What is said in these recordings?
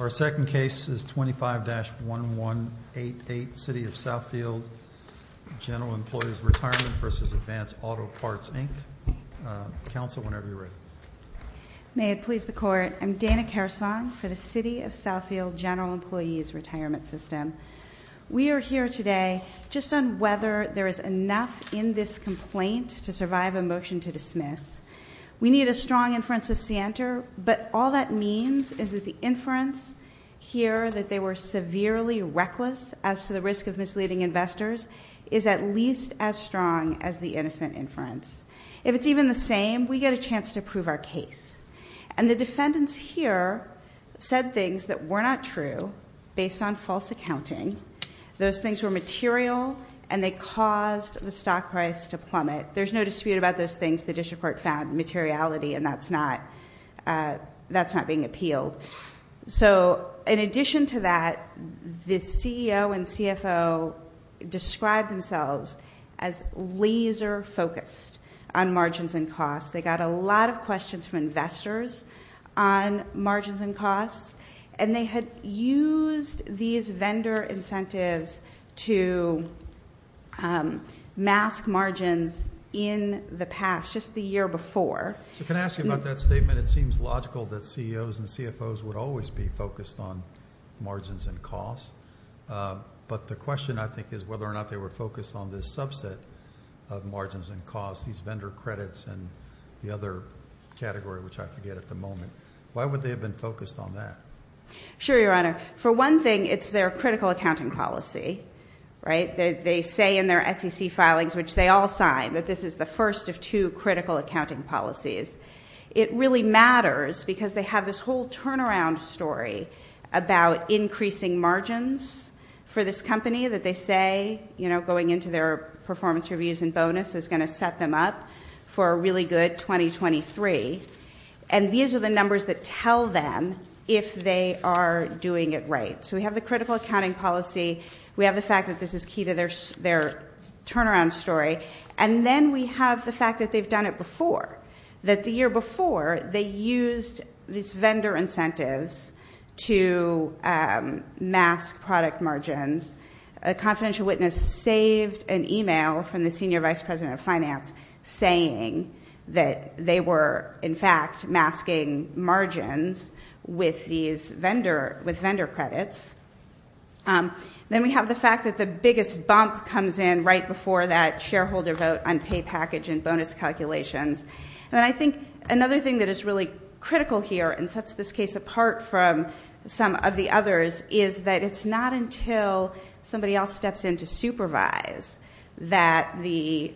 Our second case is 25-1188, City of Southfield General Employees' Retirement v. Advance Auto Parts, Inc. Counsel, whenever you're ready. May it please the Court. I'm Dana Kersvang for the City of Southfield General Employees' Retirement System. We are here today just on whether there is enough in this complaint to survive a motion to dismiss. We need a strong inference of scienter, but all that means is that the inference here that they were severely reckless as to the risk of misleading investors is at least as strong as the innocent inference. If it's even the same, we get a chance to prove our case. And the defendants here said things that were not true based on false accounting. Those things were material, and they caused the stock price to plummet. There's no dispute about those things. The district court found materiality, and that's not being appealed. So in addition to that, the CEO and CFO described themselves as laser-focused on margins and costs. They got a lot of questions from investors on margins and costs, and they had used these vendor incentives to mask margins in the past, just the year before. So can I ask you about that statement? It seems logical that CEOs and CFOs would always be focused on margins and costs, but the question, I think, is whether or not they were focused on this subset of margins and costs, these vendor credits and the other category, which I forget at the moment. Why would they have been focused on that? Sure, Your Honor. For one thing, it's their critical accounting policy, right? They say in their SEC filings, which they all sign, that this is the first of two critical accounting policies. It really matters because they have this whole turnaround story about increasing margins for this company that they say, you know, going into their performance reviews and bonus is going to set them up for a really good 2023. And these are the numbers that tell them if they are doing it right. So we have the critical accounting policy. We have the fact that this is key to their turnaround story. And then we have the fact that they've done it before, that the year before they used these vendor incentives to mask product margins. A confidential witness saved an e-mail from the Senior Vice President of Finance saying that they were, in fact, masking margins with vendor credits. Then we have the fact that the biggest bump comes in right before that shareholder vote on pay package and bonus calculations. And I think another thing that is really critical here and sets this case apart from some of the others is that it's not until somebody else steps in to supervise that the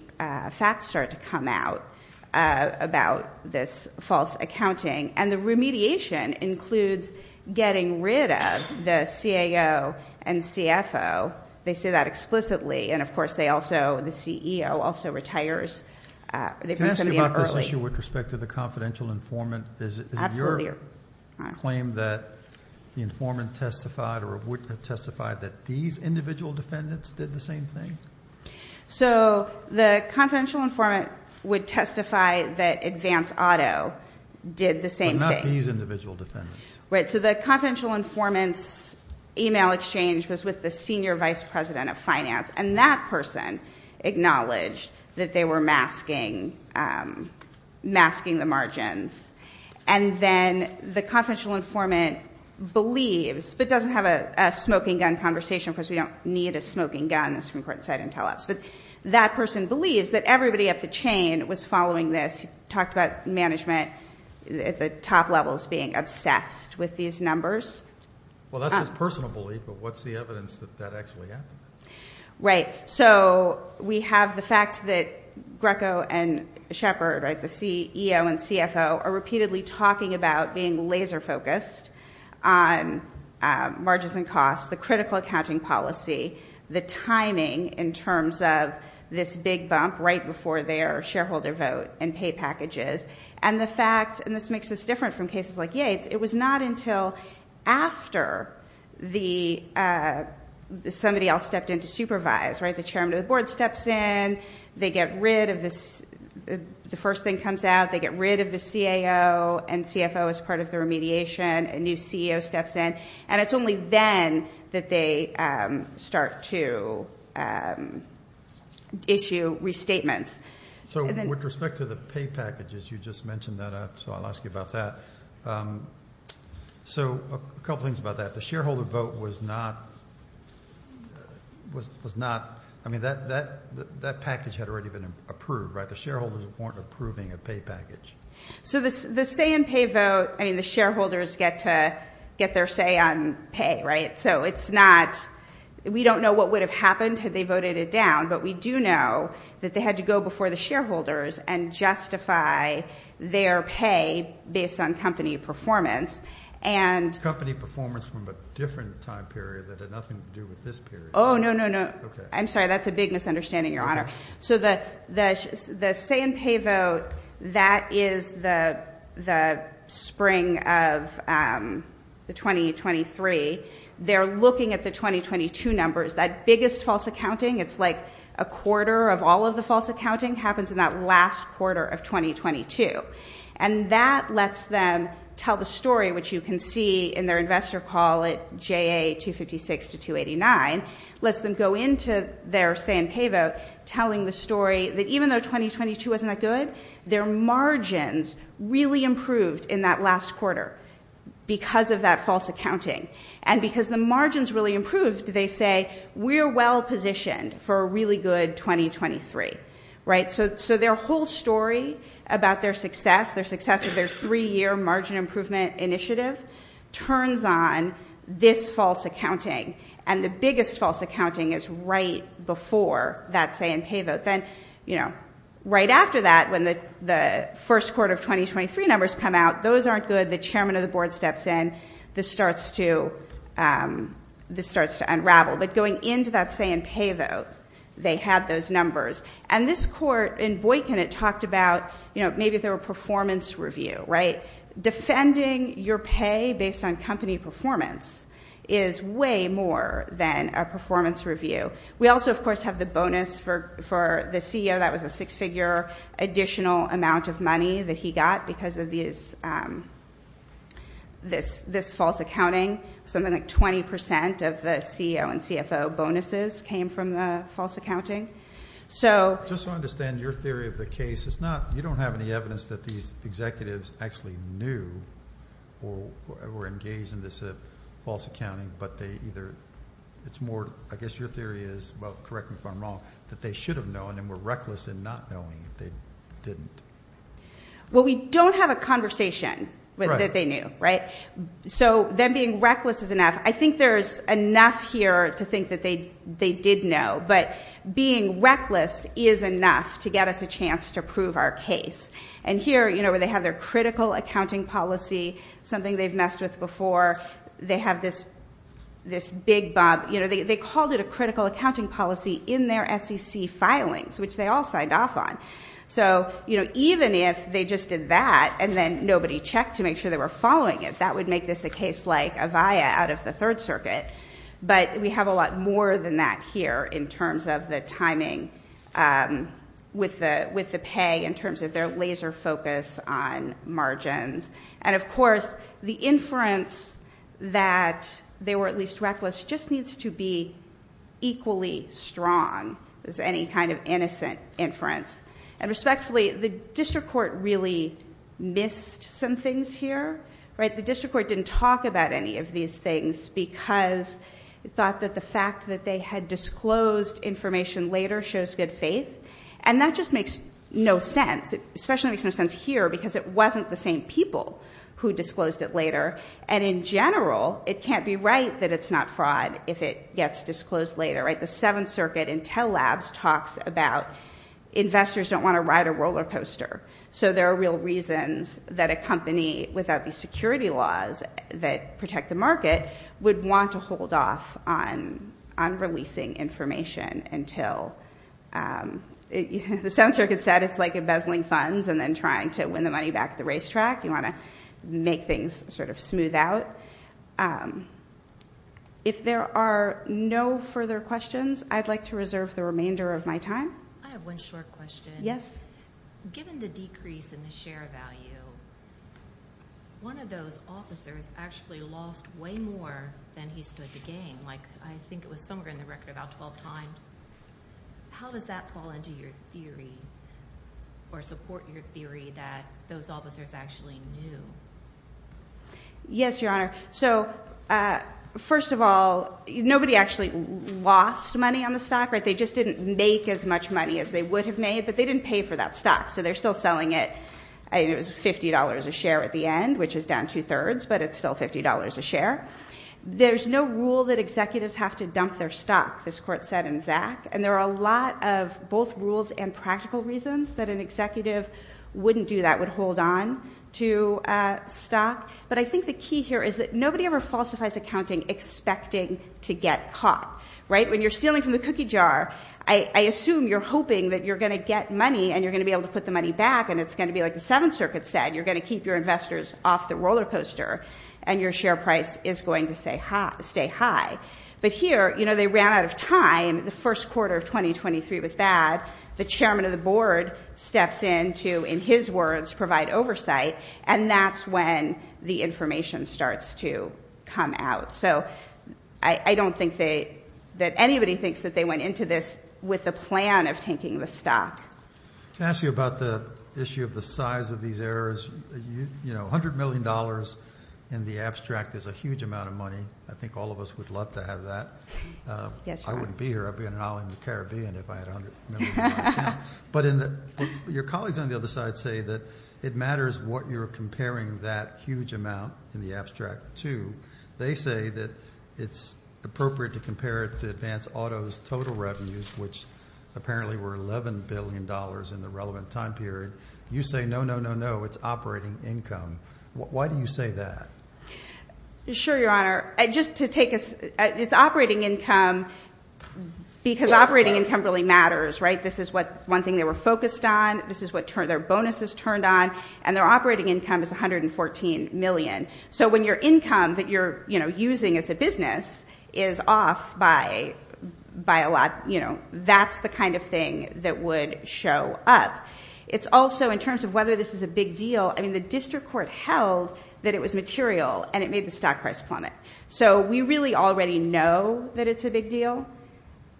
facts start to come out about this false accounting. And the remediation includes getting rid of the CAO and CFO. They say that explicitly. And, of course, they also, the CEO also retires. They bring somebody in early. Can I ask you about this issue with respect to the confidential informant? Absolutely. Is it your claim that the informant testified or a witness testified that these individual defendants did the same thing? So the confidential informant would testify that Advance Auto did the same thing. But not these individual defendants. Right. So the confidential informant's e-mail exchange was with the Senior Vice President of Finance. And that person acknowledged that they were masking the margins. And then the confidential informant believes, but doesn't have a smoking gun conversation because we don't need a smoking gun, the Supreme Court said in teleps, but that person believes that everybody at the chain was following this, talked about management at the top levels being obsessed with these numbers. Well, that's his personal belief, but what's the evidence that that actually happened? Right. So we have the fact that Greco and Shepard, right, the CEO and CFO, are repeatedly talking about being laser focused on margins and costs, the critical accounting policy, the timing in terms of this big bump right before their shareholder vote and pay packages. And the fact, and this makes this different from cases like Yates, it was not until after somebody else stepped in to supervise, right, the chairman of the board steps in, they get rid of this, the first thing comes out, they get rid of the CAO and CFO as part of the remediation, a new CEO steps in, and it's only then that they start to issue restatements. So with respect to the pay packages, you just mentioned that, so I'll ask you about that. So a couple things about that. The shareholder vote was not, I mean, that package had already been approved, right? The shareholders weren't approving a pay package. So the say and pay vote, I mean, the shareholders get to get their say on pay, right? So it's not, we don't know what would have happened had they voted it down, but we do know that they had to go before the shareholders and justify their pay based on company performance. Company performance from a different time period that had nothing to do with this period. Oh, no, no, no. I'm sorry, that's a big misunderstanding, Your Honor. So the say and pay vote, that is the spring of 2023. They're looking at the 2022 numbers. That biggest false accounting, it's like a quarter of all of the false accounting happens in that last quarter of 2022. And that lets them tell the story, which you can see in their investor call at JA256 to 289, lets them go into their say and pay vote telling the story that even though 2022 wasn't that good, their margins really improved in that last quarter because of that false accounting. And because the margins really improved, they say, we're well positioned for a really good 2023, right? So their whole story about their success, their success of their three-year margin improvement initiative turns on this false accounting. And the biggest false accounting is right before that say and pay vote. Then, you know, right after that, when the first quarter of 2023 numbers come out, those aren't good. So the chairman of the board steps in. This starts to unravel. But going into that say and pay vote, they have those numbers. And this court in Boykin, it talked about, you know, maybe they're a performance review, right? Defending your pay based on company performance is way more than a performance review. We also, of course, have the bonus for the CEO. That was a six-figure additional amount of money that he got because of this false accounting. Something like 20% of the CEO and CFO bonuses came from the false accounting. So. Just to understand your theory of the case, it's not, you don't have any evidence that these executives actually knew or were engaged in this false accounting. But they either, it's more, I guess your theory is, well, correct me if I'm wrong, that they should have known and were reckless in not knowing if they didn't. Well, we don't have a conversation that they knew, right? So them being reckless is enough. I think there's enough here to think that they did know. But being reckless is enough to get us a chance to prove our case. And here, you know, where they have their critical accounting policy, something they've messed with before. They have this big bob. You know, they called it a critical accounting policy in their SEC filings, which they all signed off on. So, you know, even if they just did that and then nobody checked to make sure they were following it, that would make this a case like Avaya out of the Third Circuit. But we have a lot more than that here in terms of the timing with the pay, in terms of their laser focus on margins. And, of course, the inference that they were at least reckless just needs to be equally strong as any kind of innocent inference. And respectfully, the district court really missed some things here, right? The district court didn't talk about any of these things because it thought that the fact that they had disclosed information later shows good faith. And that just makes no sense. It especially makes no sense here because it wasn't the same people who disclosed it later. And in general, it can't be right that it's not fraud if it gets disclosed later, right? The Seventh Circuit Intel Labs talks about investors don't want to ride a roller coaster. So there are real reasons that a company without the security laws that protect the market would want to hold off on releasing information until the Seventh Circuit said it's like embezzling funds and then trying to win the money back at the racetrack. You want to make things sort of smooth out. If there are no further questions, I'd like to reserve the remainder of my time. I have one short question. Yes. Given the decrease in the share value, one of those officers actually lost way more than he stood to gain. Like, I think it was somewhere in the record about 12 times. How does that fall into your theory or support your theory that those officers actually knew? Yes, Your Honor. So, first of all, nobody actually lost money on the stock, right? They just didn't make as much money as they would have made, but they didn't pay for that stock. So they're still selling it. It was $50 a share at the end, which is down two-thirds, but it's still $50 a share. There's no rule that executives have to dump their stock, this court said in Zack. And there are a lot of both rules and practical reasons that an executive wouldn't do that, would hold on to stock. But I think the key here is that nobody ever falsifies accounting expecting to get caught, right? When you're stealing from the cookie jar, I assume you're hoping that you're going to get money and you're going to be able to put the money back, and it's going to be like the Seventh Circuit said. You're going to keep your investors off the roller coaster, and your share price is going to stay high. But here, you know, they ran out of time. The first quarter of 2023 was bad. The chairman of the board steps in to, in his words, provide oversight, and that's when the information starts to come out. So I don't think that anybody thinks that they went into this with a plan of taking the stock. Can I ask you about the issue of the size of these errors? You know, $100 million in the abstract is a huge amount of money. I think all of us would love to have that. I wouldn't be here. I'd be in an island in the Caribbean if I had $100 million. But your colleagues on the other side say that it matters what you're comparing that huge amount in the abstract to. They say that it's appropriate to compare it to Advance Auto's total revenues, which apparently were $11 billion in the relevant time period. You say, no, no, no, no, it's operating income. Why do you say that? Sure, Your Honor. Just to take us, it's operating income because operating income really matters, right? This is one thing they were focused on. This is what their bonuses turned on, and their operating income is $114 million. So when your income that you're, you know, using as a business is off by a lot, you know, that's the kind of thing that would show up. It's also in terms of whether this is a big deal. I mean, the district court held that it was material, and it made the stock price plummet. So we really already know that it's a big deal.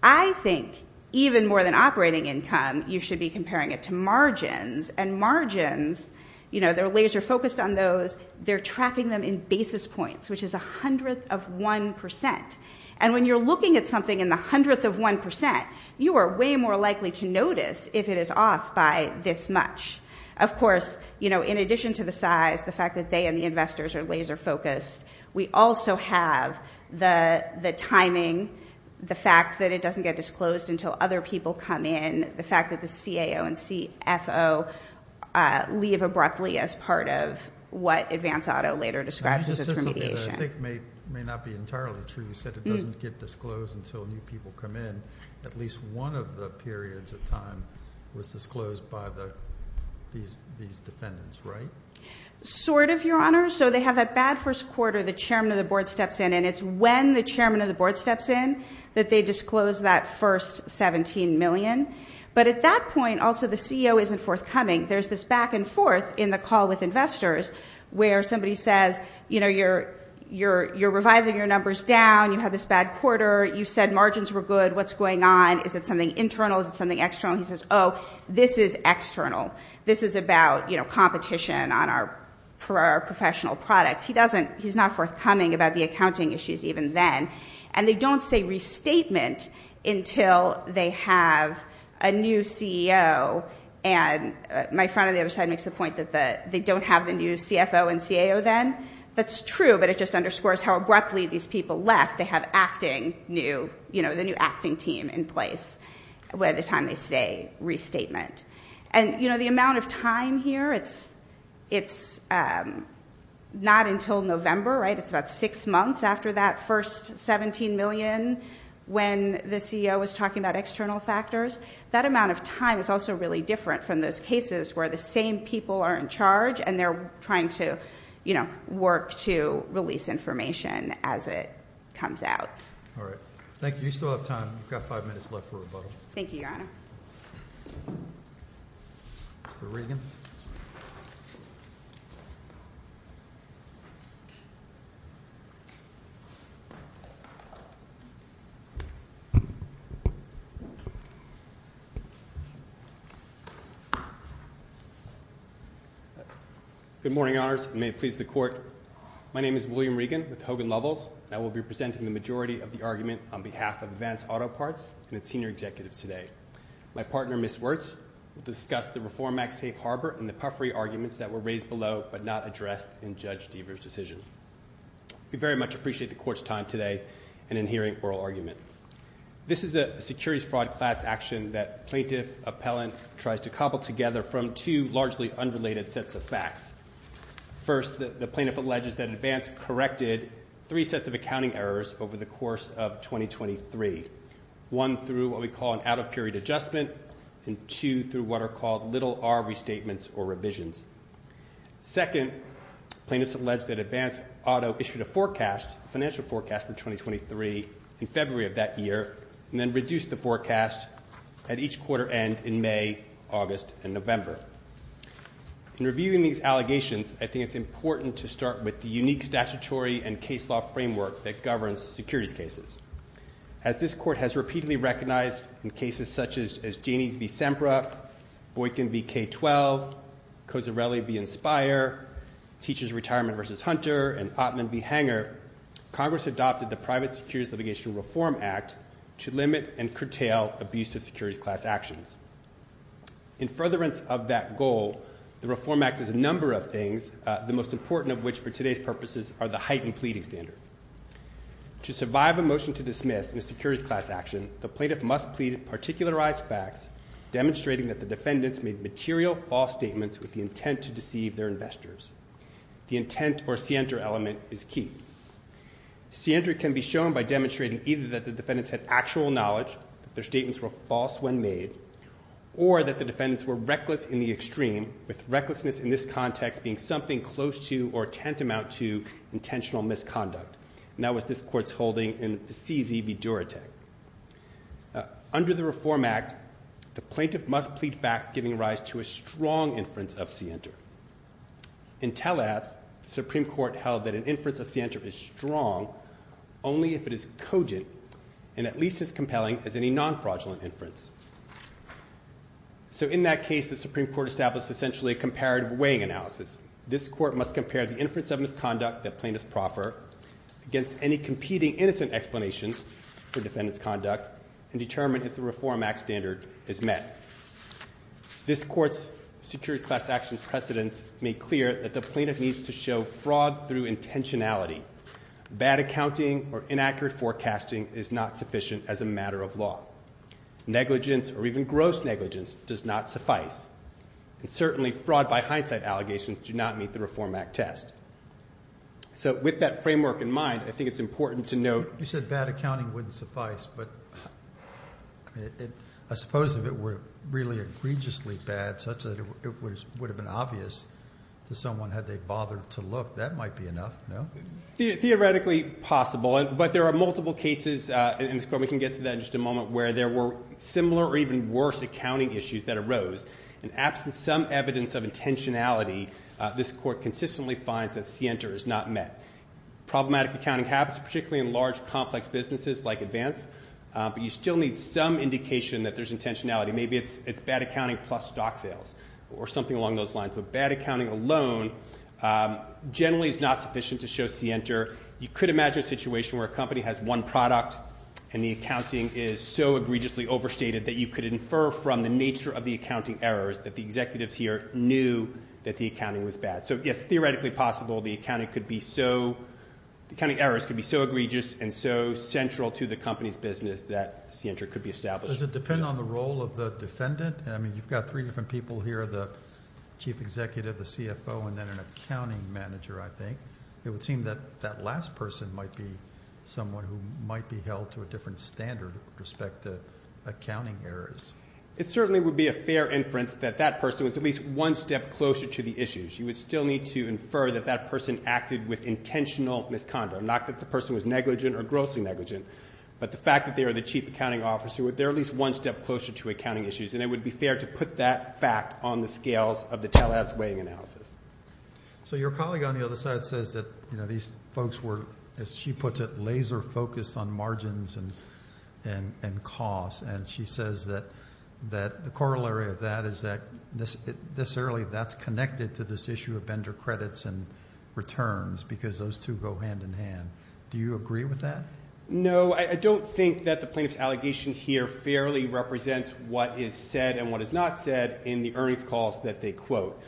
I think even more than operating income, you should be comparing it to margins. And margins, you know, they're laser focused on those. They're tracking them in basis points, which is a hundredth of 1%. And when you're looking at something in the hundredth of 1%, you are way more likely to notice if it is off by this much. Of course, you know, in addition to the size, the fact that they and the investors are laser focused, we also have the timing, the fact that it doesn't get disclosed until other people come in, the fact that the CAO and CFO leave abruptly as part of what Advance Auto later describes as remediation. This is something that I think may not be entirely true. You said it doesn't get disclosed until new people come in. At least one of the periods of time was disclosed by these defendants, right? Sort of, Your Honor. So they have that bad first quarter. The chairman of the board steps in, and it's when the chairman of the board steps in that they disclose that first $17 million. But at that point, also, the CEO isn't forthcoming. There's this back and forth in the call with investors where somebody says, you know, you're revising your numbers down. You have this bad quarter. You said margins were good. What's going on? Is it something internal? Is it something external? He says, oh, this is external. This is about, you know, competition on our professional products. He's not forthcoming about the accounting issues even then. And they don't say restatement until they have a new CEO. And my friend on the other side makes the point that they don't have the new CFO and CAO then. That's true, but it just underscores how abruptly these people left. They have acting new, you know, the new acting team in place by the time they say restatement. And, you know, the amount of time here, it's not until November, right? It's about six months after that first $17 million when the CEO was talking about external factors. That amount of time is also really different from those cases where the same people are in charge and they're trying to, you know, work to release information as it comes out. All right. Thank you. You still have time. You've got five minutes left for rebuttal. Thank you, Your Honor. Mr. Regan. Good morning, Honors. May it please the Court. My name is William Regan with Hogan Lovells. I will be presenting the majority of the argument on behalf of Advance Auto Parts and its senior executives today. My partner, Ms. Wirtz, will discuss the Reform Act safe harbor and the puffery arguments that were raised below but not addressed in Judge Deaver's decision. We very much appreciate the Court's time today and in hearing oral argument. This is a securities fraud class action that plaintiff appellant tries to cobble together from two largely unrelated sets of facts. First, the plaintiff alleges that Advance corrected three sets of accounting errors over the course of 2023, one through what we call an out-of-period adjustment and two through what are called little-R restatements or revisions. Second, plaintiffs allege that Advance Auto issued a forecast, financial forecast, for 2023 in February of that year and then reduced the forecast at each quarter end in May, August, and November. In reviewing these allegations, I think it's important to start with the unique statutory and case law framework that governs securities cases. As this Court has repeatedly recognized in cases such as Janney v. Sempra, Boykin v. K-12, Cozzarelli v. Inspire, Teachers Retirement v. Hunter, and Ottman v. Hanger, Congress adopted the Private Securities Litigation Reform Act to limit and curtail abusive securities class actions. In furtherance of that goal, the Reform Act does a number of things, the most important of which for today's purposes are the heightened pleading standard. To survive a motion to dismiss in a securities class action, the plaintiff must plead particularized facts demonstrating that the defendants made material false statements with the intent to deceive their investors. The intent or scienter element is key. Scientry can be shown by demonstrating either that the defendants had actual knowledge, that their statements were false when made, or that the defendants were reckless in the extreme, with recklessness in this context being something close to or tantamount to intentional misconduct. And that was this Court's holding in C. Z. v. Duratech. Under the Reform Act, the plaintiff must plead facts giving rise to a strong inference of scienter. In Tellabs, the Supreme Court held that an inference of scienter is strong only if it is cogent and at least as compelling as any non-fraudulent inference. So in that case, the Supreme Court established essentially a comparative weighing analysis. This Court must compare the inference of misconduct that plaintiffs proffer against any competing innocent explanations for defendants' conduct and determine if the Reform Act standard is met. This Court's securities class action precedents make clear that the plaintiff needs to show fraud through intentionality, bad accounting or inaccurate forecasting is not sufficient as a matter of law, negligence or even gross negligence does not suffice, and certainly fraud by hindsight allegations do not meet the Reform Act test. So with that framework in mind, I think it's important to note. You said bad accounting wouldn't suffice, but I suppose if it were really egregiously bad such that it would have been obvious to someone had they bothered to look, that might be enough, no? Theoretically possible, but there are multiple cases in this Court. We can get to that in just a moment where there were similar or even worse accounting issues that arose. In absence of some evidence of intentionality, this Court consistently finds that scienter is not met. Problematic accounting happens particularly in large complex businesses like advance, but you still need some indication that there's intentionality. Maybe it's bad accounting plus stock sales or something along those lines. So bad accounting alone generally is not sufficient to show scienter. You could imagine a situation where a company has one product, and the accounting is so egregiously overstated that you could infer from the nature of the accounting errors that the executives here knew that the accounting was bad. So yes, theoretically possible, the accounting errors could be so egregious and so central to the company's business that scienter could be established. Does it depend on the role of the defendant? I mean, you've got three different people here, the chief executive, the CFO, and then an accounting manager, I think. It would seem that that last person might be someone who might be held to a different standard with respect to accounting errors. It certainly would be a fair inference that that person was at least one step closer to the issues. You would still need to infer that that person acted with intentional misconduct, not that the person was negligent or grossly negligent, but the fact that they are the chief accounting officer, they're at least one step closer to accounting issues, and it would be fair to put that fact on the scales of the TALAB's weighing analysis. So your colleague on the other side says that these folks were, as she puts it, laser-focused on margins and costs, and she says that the corollary of that is that necessarily that's connected to this issue of vendor credits and returns because those two go hand in hand. Do you agree with that? No. I don't think that the plaintiff's allegation here fairly represents what is said and what is not said in the earnings calls that they quote.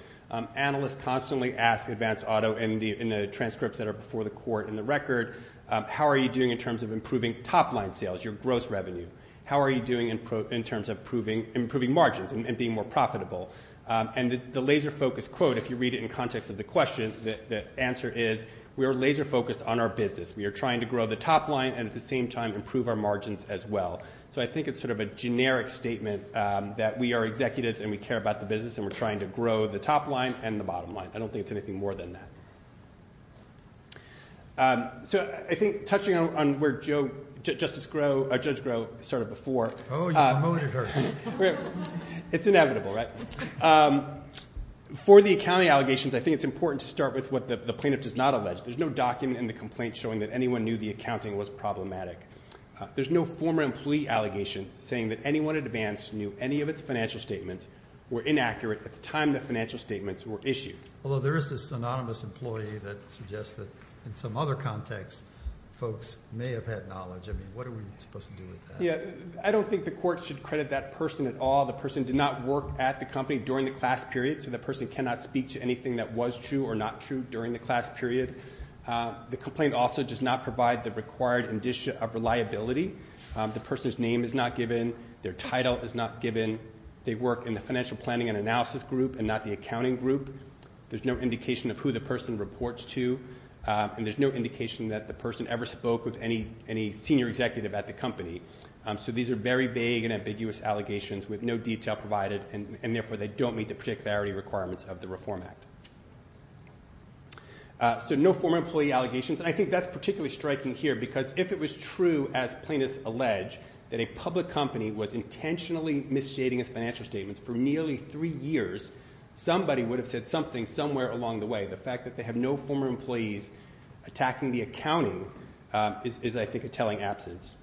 Analysts constantly ask Advance Auto in the transcripts that are before the court in the record, how are you doing in terms of improving top-line sales, your gross revenue? How are you doing in terms of improving margins and being more profitable? And the laser-focused quote, if you read it in context of the question, the answer is we are laser-focused on our business. We are trying to grow the top line and, at the same time, improve our margins as well. So I think it's sort of a generic statement that we are executives and we care about the business and we're trying to grow the top line and the bottom line. I don't think it's anything more than that. So I think touching on where Judge Groh started before. Oh, you promoted her. It's inevitable, right? For the accounting allegations, I think it's important to start with what the plaintiff does not allege. There's no document in the complaint showing that anyone knew the accounting was problematic. There's no former employee allegation saying that anyone at Advance knew any of its financial statements were inaccurate at the time the financial statements were issued. Although there is this synonymous employee that suggests that, in some other context, folks may have had knowledge. I mean, what are we supposed to do with that? I don't think the court should credit that person at all. The person did not work at the company during the class period, so the person cannot speak to anything that was true or not true during the class period. The complaint also does not provide the required indicia of reliability. The person's name is not given. Their title is not given. They work in the financial planning and analysis group and not the accounting group. There's no indication of who the person reports to, and there's no indication that the person ever spoke with any senior executive at the company. So these are very vague and ambiguous allegations with no detail provided, and therefore they don't meet the particularity requirements of the Reform Act. So no former employee allegations, and I think that's particularly striking here because if it was true, as plaintiffs allege, that a public company was intentionally misstating its financial statements for nearly three years, somebody would have said something somewhere along the way. The fact that they have no former employees attacking the accounting is, I think, a telling absence.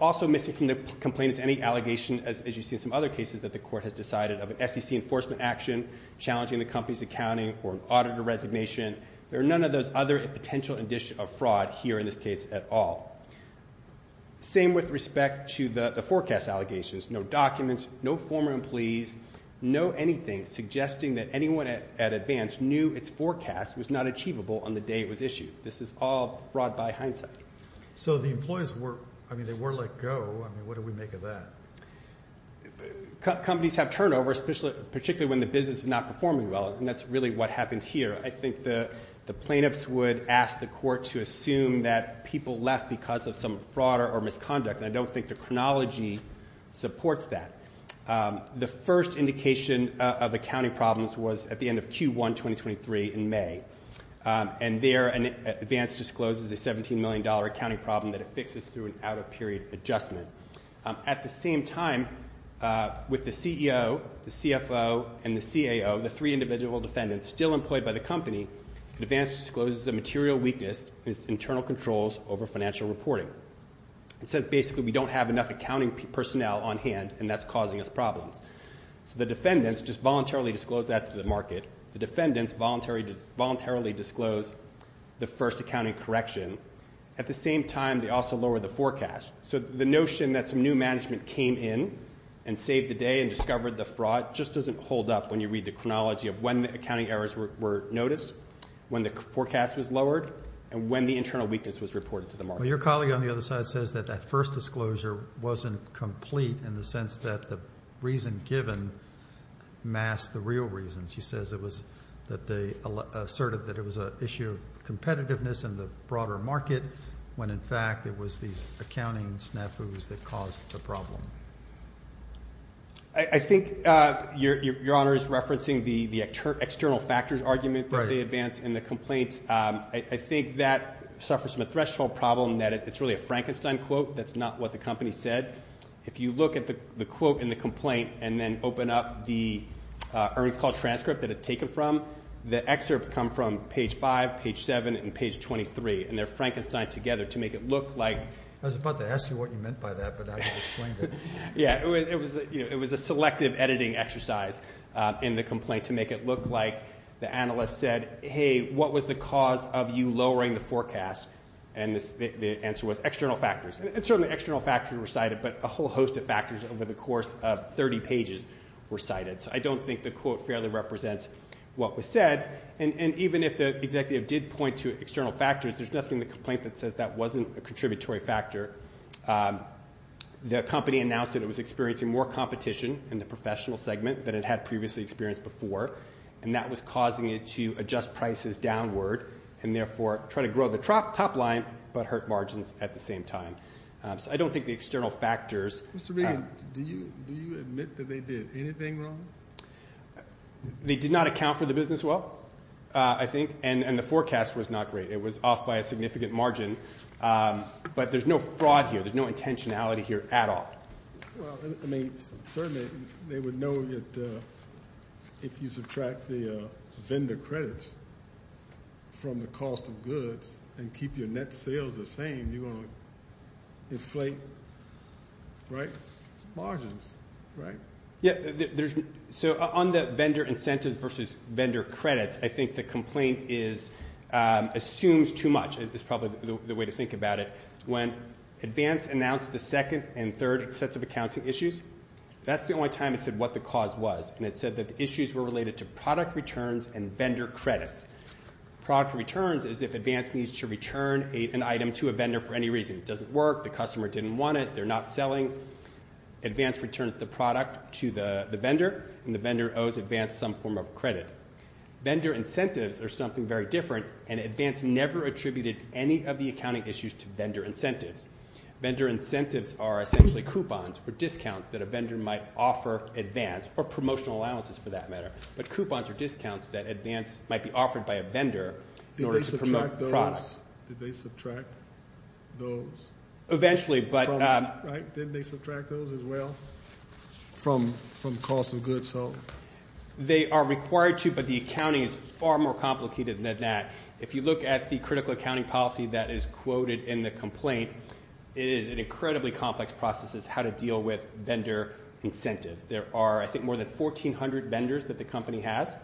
Also missing from the complaint is any allegation, as you see in some other cases, that the court has decided of an SEC enforcement action challenging the company's accounting or an auditor resignation. There are none of those other potential indicia of fraud here in this case at all. Same with respect to the forecast allegations, no documents, no former employees, no anything suggesting that anyone at advance knew its forecast was not achievable on the day it was issued. This is all fraud by hindsight. So the employees were let go. What do we make of that? Companies have turnover, particularly when the business is not performing well, and that's really what happens here. I think the plaintiffs would ask the court to assume that people left because of some fraud or misconduct, and I don't think the chronology supports that. The first indication of accounting problems was at the end of Q1 2023 in May, and there advance discloses a $17 million accounting problem that it fixes through an out-of-period adjustment. At the same time, with the CEO, the CFO, and the CAO, the three individual defendants still employed by the company, advance discloses a material weakness in its internal controls over financial reporting. It says basically we don't have enough accounting personnel on hand, and that's causing us problems. So the defendants just voluntarily disclose that to the market. The defendants voluntarily disclose the first accounting correction. At the same time, they also lower the forecast. So the notion that some new management came in and saved the day and discovered the fraud just doesn't hold up when you read the chronology of when the accounting errors were noticed, when the forecast was lowered, and when the internal weakness was reported to the market. Well, your colleague on the other side says that that first disclosure wasn't complete in the sense that the reason given masked the real reason. She says it was that they asserted that it was an issue of competitiveness in the broader market when, in fact, it was these accounting snafus that caused the problem. I think your Honor is referencing the external factors argument that they advance in the complaint. I think that suffers from a threshold problem that it's really a Frankenstein quote. That's not what the company said. If you look at the quote in the complaint and then open up the earnings call transcript that it's taken from, the excerpts come from page 5, page 7, and page 23, and they're Frankensteined together to make it look like... I was about to ask you what you meant by that, but I explained it. Yeah, it was a selective editing exercise in the complaint to make it look like the analyst said, hey, what was the cause of you lowering the forecast? And the answer was external factors. And certainly external factors were cited, but a whole host of factors over the course of 30 pages were cited, so I don't think the quote fairly represents what was said. And even if the executive did point to external factors, there's nothing in the complaint that says that wasn't a contributory factor. The company announced that it was experiencing more competition in the professional segment than it had previously experienced before, and that was causing it to adjust prices downward and therefore try to grow the top line but hurt margins at the same time. So I don't think the external factors... Mr. Regan, do you admit that they did anything wrong? They did not account for the business well, I think, and the forecast was not great. It was off by a significant margin, but there's no fraud here. There's no intentionality here at all. Well, I mean, certainly they would know if you subtract the vendor credits from the cost of goods and keep your net sales the same, you're going to inflate margins, right? Yeah, so on the vendor incentives versus vendor credits, I think the complaint assumes too much is probably the way to think about it. When Advance announced the second and third sets of accounting issues, that's the only time it said what the cause was, and it said that the issues were related to product returns and vendor credits. Product returns is if Advance needs to return an item to a vendor for any reason. It doesn't work, the customer didn't want it, they're not selling. Advance returns the product to the vendor, and the vendor owes Advance some form of credit. Vendor incentives are something very different, and Advance never attributed any of the accounting issues to vendor incentives. Vendor incentives are essentially coupons or discounts that a vendor might offer Advance, or promotional allowances for that matter, but coupons are discounts that Advance might be offered by a vendor in order to promote products. Did they subtract those? Eventually, but they are required to, but the accounting is far more complicated than that. If you look at the critical accounting policy that is quoted in the complaint, it is an incredibly complex process as how to deal with vendor incentives. There are, I think, more than 1,400 vendors that the company has,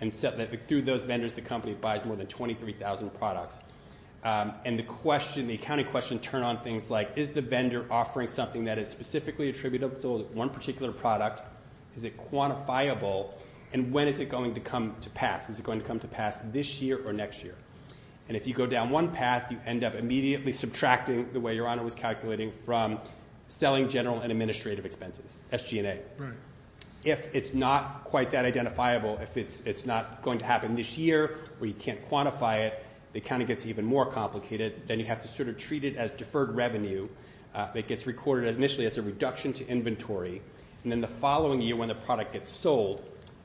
and through those vendors the company buys more than 23,000 products. And the accounting question turned on things like, is the vendor offering something that is specifically attributed to one particular product? Is it quantifiable? And when is it going to come to pass? Is it going to come to pass this year or next year? And if you go down one path, you end up immediately subtracting the way Your Honor was calculating from selling general and administrative expenses, SG&A. If it's not quite that identifiable, if it's not going to happen this year, or you can't quantify it, the accounting gets even more complicated. Then you have to sort of treat it as deferred revenue. It gets recorded initially as a reduction to inventory, and then the following year when the product gets sold,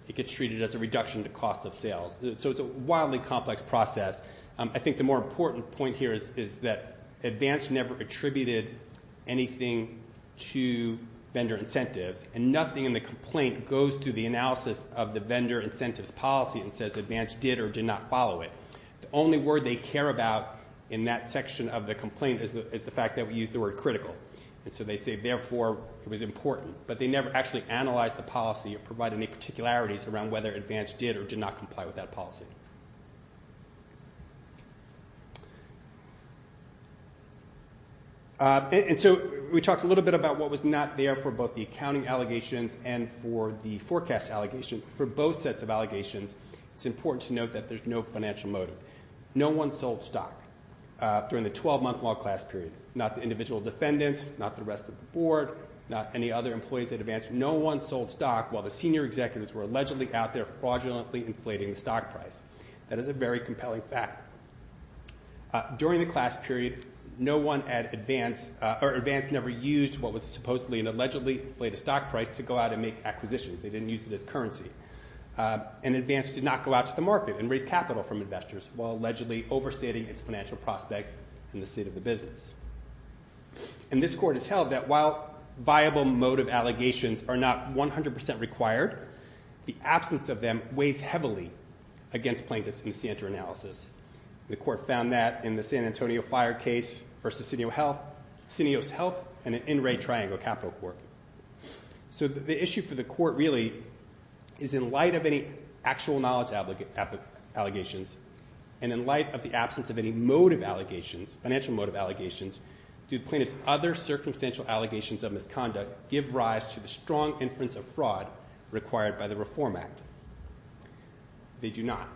it gets treated as a reduction to cost of sales. So it's a wildly complex process. I think the more important point here is that Advance never attributed anything to vendor incentives, and nothing in the complaint goes through the analysis of the vendor incentives policy and says Advance did or did not follow it. The only word they care about in that section of the complaint is the fact that we use the word critical. And so they say, therefore, it was important, but they never actually analyzed the policy or provided any particularities around whether Advance did or did not comply with that policy. And so we talked a little bit about what was not there for both the accounting allegations and for the forecast allegations. For both sets of allegations, it's important to note that there's no financial motive. No one sold stock during the 12-month log class period, not the individual defendants, not the rest of the board, not any other employees at Advance. No one sold stock while the senior executives were allegedly out there fraudulently inflating the stock price. That is a very compelling fact. During the class period, no one at Advance or Advance never used what was supposedly and allegedly inflated stock price to go out and make acquisitions. They didn't use it as currency. And Advance did not go out to the market and raise capital from investors while allegedly overstating its financial prospects in the state of the business. And this court has held that while viable motive allegations are not 100% required, the absence of them weighs heavily against plaintiffs in the CNTR analysis. The court found that in the San Antonio Fire case versus Cineo Health, Cineo's Health, and the NRA Triangle Capital Court. So the issue for the court really is in light of any actual knowledge allegations and in light of the absence of any motive allegations, financial motive allegations, do plaintiffs' other circumstantial allegations of misconduct give rise to the strong inference of fraud required by the Reform Act? They do not.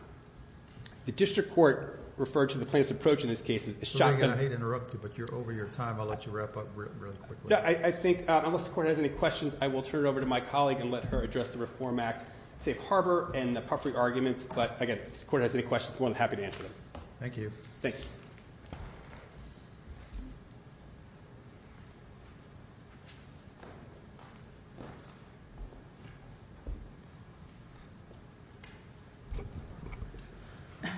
The district court referred to the plaintiff's approach in this case as shocking. I hate to interrupt you, but you're over your time. I'll let you wrap up really quickly. I think unless the court has any questions, I will turn it over to my colleague and let her address the Reform Act safe harbor and the puffery arguments. But, again, if the court has any questions, I'm more than happy to answer them. Thank you. Thank you.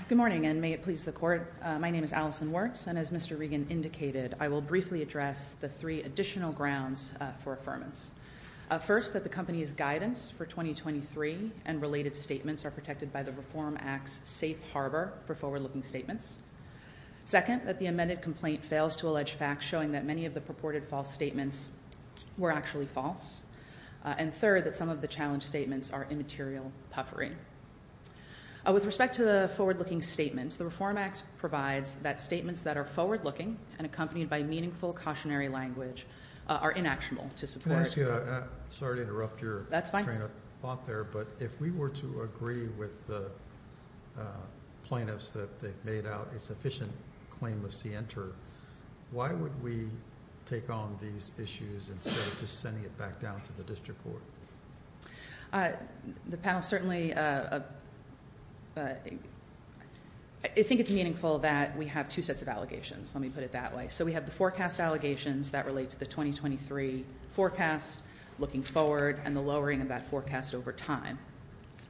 Good morning, and may it please the court. My name is Allison Wertz, and as Mr. Regan indicated, I will briefly address the three additional grounds for affirmance. First, that the company's guidance for 2023 and related statements are protected by the Reform Act's safe harbor for forward-looking statements. Second, that the amended complaint fails to allege facts showing that many of the purported false statements were actually false. And third, that some of the challenge statements are immaterial puffery. With respect to the forward-looking statements, the Reform Act provides that statements that are forward-looking and accompanied by meaningful cautionary language are inactual to support. Can I ask you a question? Sorry to interrupt your train of thought there. That's fine. But if we were to agree with the plaintiffs that they've made out a sufficient claim of scienter, why would we take on these issues instead of just sending it back down to the district court? The panel certainly think it's meaningful that we have two sets of allegations. Let me put it that way. So we have the forecast allegations that relate to the 2023 forecast, looking forward, and the lowering of that forecast over time.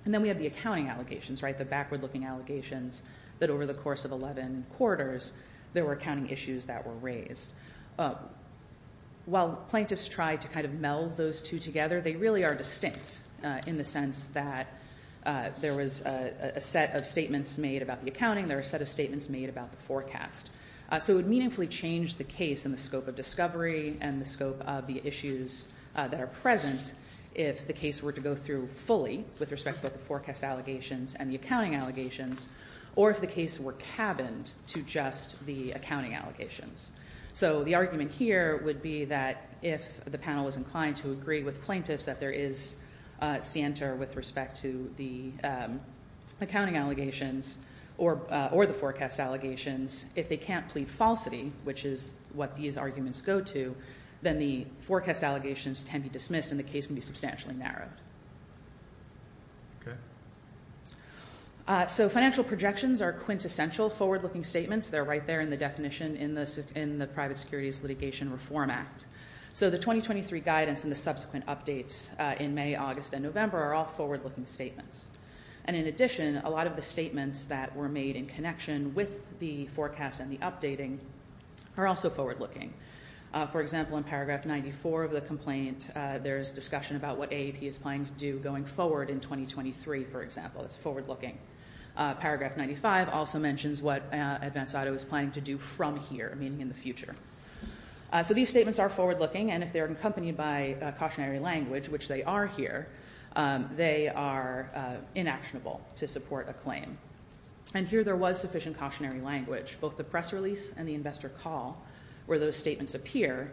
And then we have the accounting allegations, the backward-looking allegations that over the course of 11 quarters there were accounting issues that were raised. While plaintiffs tried to kind of meld those two together, they really are distinct in the sense that there was a set of statements made about the accounting, there were a set of statements made about the forecast. So it would meaningfully change the case in the scope of discovery and the scope of the issues that are present if the case were to go through fully with respect to both the forecast allegations and the accounting allegations, or if the case were cabined to just the accounting allegations. So the argument here would be that if the panel was inclined to agree with plaintiffs that there is scienter with respect to the accounting allegations or the forecast allegations, if they can't plead falsity, which is what these arguments go to, then the forecast allegations can be dismissed and the case can be substantially narrowed. Okay. So financial projections are quintessential forward-looking statements. They're right there in the definition in the Private Securities Litigation Reform Act. So the 2023 guidance and the subsequent updates in May, August, and November are all forward-looking statements. And in addition, a lot of the statements that were made in connection with the forecast and the updating are also forward-looking. For example, in paragraph 94 of the complaint, there is discussion about what AAP is planning to do going forward in 2023, for example. It's forward-looking. Paragraph 95 also mentions what Advance Auto is planning to do from here, meaning in the future. So these statements are forward-looking, and if they're accompanied by cautionary language, which they are here, they are inactionable to support a claim. And here there was sufficient cautionary language. Both the press release and the investor call, where those statements appear,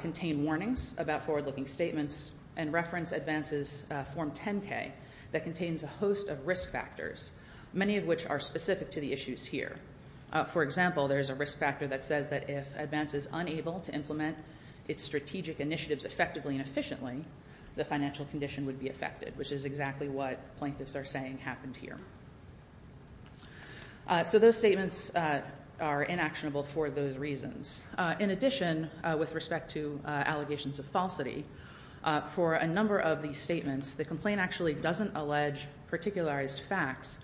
contain warnings about forward-looking statements and reference Advance's Form 10-K that contains a host of risk factors, many of which are specific to the issues here. For example, there's a risk factor that says that if Advance is unable to implement its strategic initiatives effectively and efficiently, the financial condition would be affected, which is exactly what plaintiffs are saying happened here. So those statements are inactionable for those reasons. In addition, with respect to allegations of falsity, for a number of these statements, the complaint actually doesn't allege particularized facts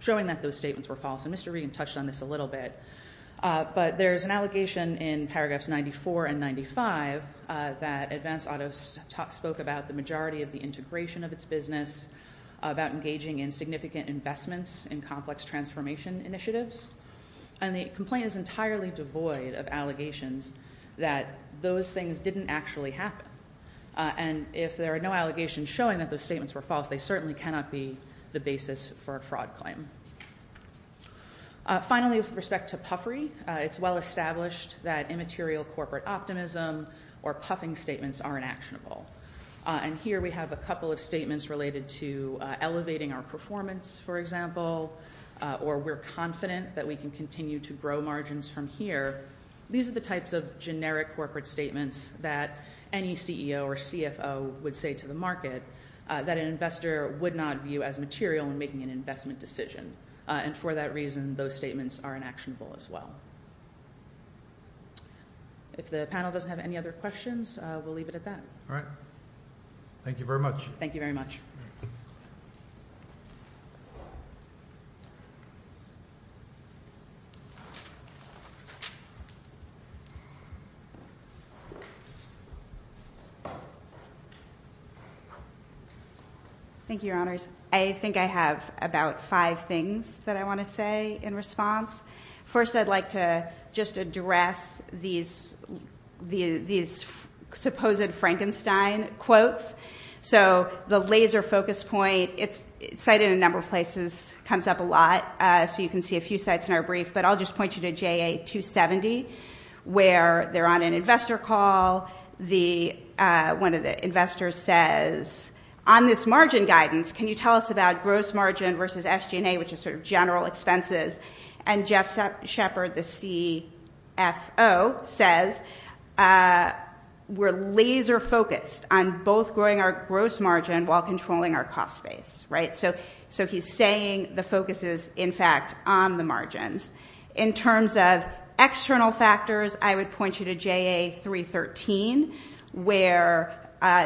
showing that those statements were false, and Mr. Regan touched on this a little bit. But there's an allegation in paragraphs 94 and 95 that Advance Auto spoke about the majority of the integration of its business, about engaging in significant investments in complex transformation initiatives, and the complaint is entirely devoid of allegations that those things didn't actually happen. And if there are no allegations showing that those statements were false, they certainly cannot be the basis for a fraud claim. Finally, with respect to puffery, it's well established that immaterial corporate optimism or puffing statements are inactionable. And here we have a couple of statements related to elevating our performance, for example, or we're confident that we can continue to grow margins from here. These are the types of generic corporate statements that any CEO or CFO would say to the market that an investor would not view as material when making an investment decision, and for that reason, those statements are inactionable as well. If the panel doesn't have any other questions, we'll leave it at that. All right. Thank you very much. Thank you very much. Thank you, Your Honors. I think I have about five things that I want to say in response. First, I'd like to just address these supposed Frankenstein quotes. So the laser focus point, it's cited in a number of places, comes up a lot, so you can see a few sites in our brief, but I'll just point you to JA-270, where they're on an investor call, one of the investors says, on this margin guidance, can you tell us about gross margin versus SG&A, which is sort of general expenses? And Jeff Sheppard, the CFO, says, we're laser focused on both growing our gross margin while controlling our cost base, right? So he's saying the focus is, in fact, on the margins. In terms of external factors, I would point you to JA-313, where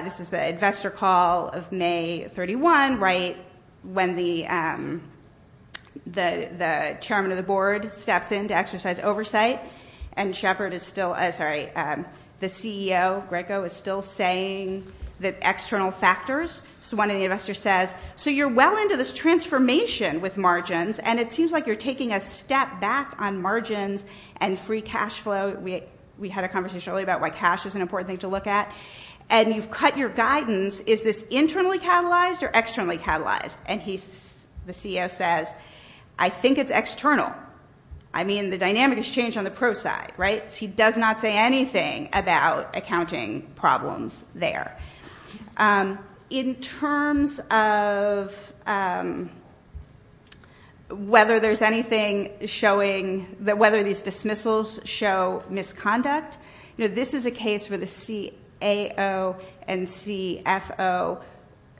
this is the investor call of May 31, right when the chairman of the board steps in to exercise oversight, and Sheppard is still... Sorry, the CEO, Greco, is still saying the external factors. So one of the investors says, so you're well into this transformation with margins, and it seems like you're taking a step back on margins and free cash flow. We had a conversation earlier about why cash is an important thing to look at. And you've cut your guidance. Is this internally catalyzed or externally catalyzed? And the CEO says, I think it's external. I mean, the dynamic has changed on the pro side, right? So he does not say anything about accounting problems there. In terms of whether there's anything showing... whether these dismissals show misconduct, this is a case where the CAO and CFO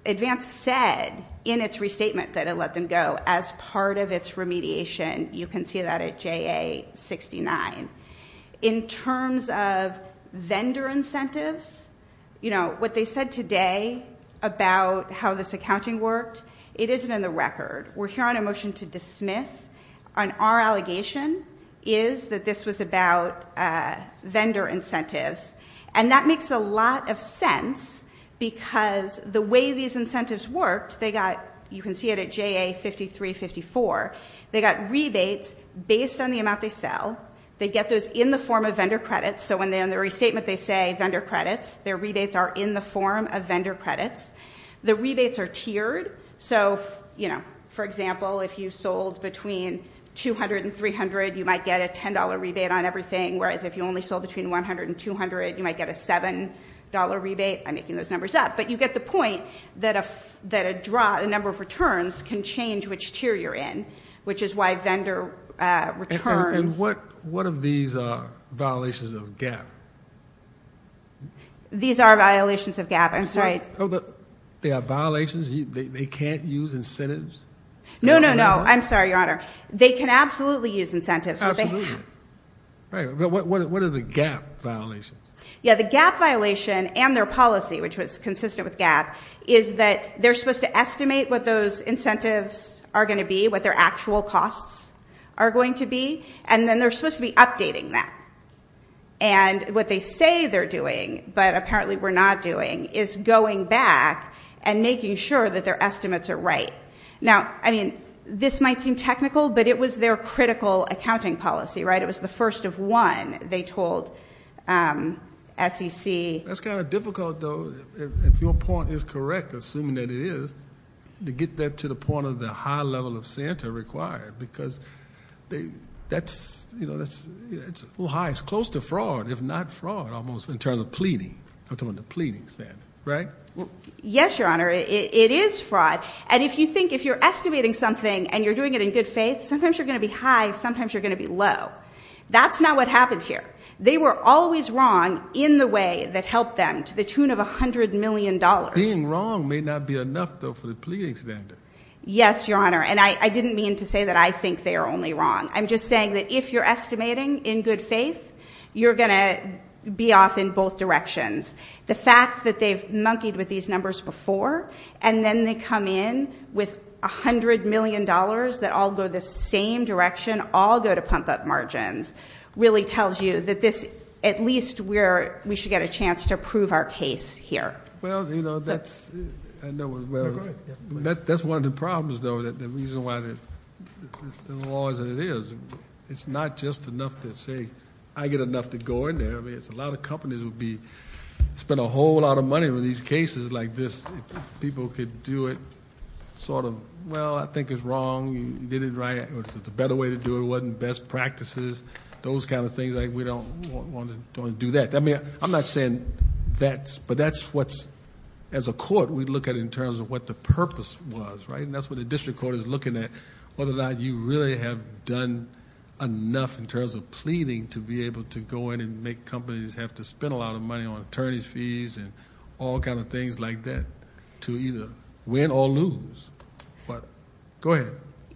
advance said in its restatement that it let them go as part of its remediation. You can see that at JA-69. In terms of vendor incentives, what they said today about how this accounting worked, it isn't in the record. We're here on a motion to dismiss and our allegation is that this was about vendor incentives. And that makes a lot of sense because the way these incentives worked, they got... you can see it at JA-53, 54. They got rebates based on the amount they sell. They get those in the form of vendor credits. So when they're in the restatement, they say vendor credits. Their rebates are in the form of vendor credits. The rebates are tiered. So, you know, for example, if you sold between $200 and $300, you might get a $10 rebate on everything, whereas if you only sold between $100 and $200, you might get a $7 rebate. I'm making those numbers up. But you get the point that a number of returns can change which tier you're in, which is why vendor returns... And what of these are violations of GAAP? These are violations of GAAP, I'm sorry. They are violations? They can't use incentives? No, no, no. I'm sorry, Your Honor. They can absolutely use incentives. Absolutely. But what are the GAAP violations? Yeah, the GAAP violation and their policy, which was consistent with GAAP, is that they're supposed to estimate what those incentives are going to be, what their actual costs are going to be, and then they're supposed to be updating that. And what they say they're doing, but apparently we're not doing, is going back and making sure that their estimates are right. Now, I mean, this might seem technical, but it was their critical accounting policy, right? It was the first of one, they told SEC. That's kind of difficult, though, if your point is correct, assuming that it is, to get that to the point of the high level of Santa required because that's a little high. It's close to fraud, if not fraud, almost in terms of pleading. I'm talking about the pleadings then, right? Yes, Your Honor, it is fraud. And if you think, if you're estimating something and you're doing it in good faith, sometimes you're going to be high, sometimes you're going to be low. That's not what happened here. They were always wrong in the way that helped them to the tune of $100 million. Being wrong may not be enough, though, for the pleading standard. Yes, Your Honor, and I didn't mean to say that I think they are only wrong. I'm just saying that if you're estimating in good faith, you're going to be off in both directions. The fact that they've monkeyed with these numbers before and then they come in with $100 million that all go the same direction, all go to pump-up margins, really tells you that this, at least we should get a chance to prove our case here. Well, you know, that's one of the problems, though, the reason why the law is as it is. It's not just enough to say, I get enough to go in there. I mean, a lot of companies would spend a whole lot of money on these cases like this. People could do it sort of, well, I think it's wrong. You did it right. The better way to do it wasn't best practices. Those kind of things, we don't want to do that. I mean, I'm not saying that, but that's what, as a court, we look at in terms of what the purpose was, right? And that's what the district court is looking at, whether or not you really have done enough in terms of pleading to be able to go in and make companies have to spend a lot of money on attorney's fees and all kind of things like that to either win or lose. But go ahead.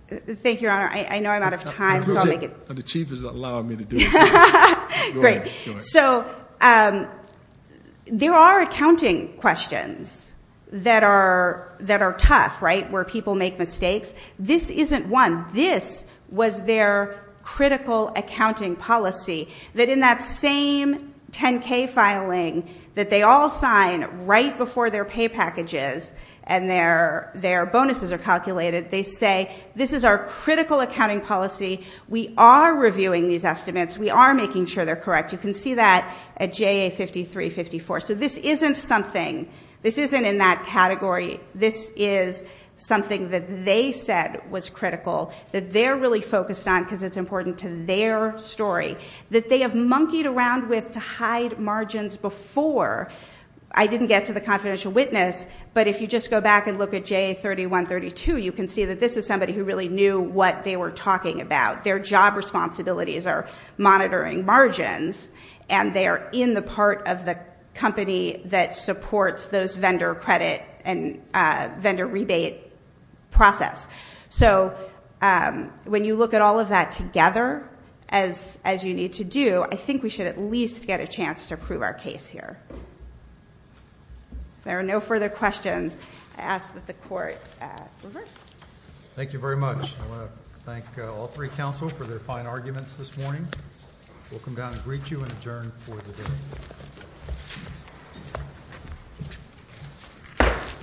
Thank you, Your Honor. I know I'm out of time, so I'll make it. The Chief is allowing me to do it. Great. So there are accounting questions that are tough, right, where people make mistakes. This isn't one. This was their critical accounting policy, that in that same 10-K filing that they all sign right before their pay packages and their bonuses are calculated, they say this is our critical accounting policy. We are reviewing these estimates. We are making sure they're correct. You can see that at JA 5354. So this isn't something. This isn't in that category. This is something that they said was critical, that they're really focused on because it's important to their story. That they have monkeyed around with to hide margins before. I didn't get to the confidential witness, but if you just go back and look at JA 3132, you can see that this is somebody who really knew what they were talking about. Their job responsibilities are monitoring margins, and they are in the part of the company that supports those vendor credit and vendor rebate process. So when you look at all of that together as you need to do, I think we should at least get a chance to prove our case here. If there are no further questions, I ask that the court reverse. Thank you very much. I want to thank all three counsel for their fine arguments this morning. We'll come down and greet you and adjourn for the day.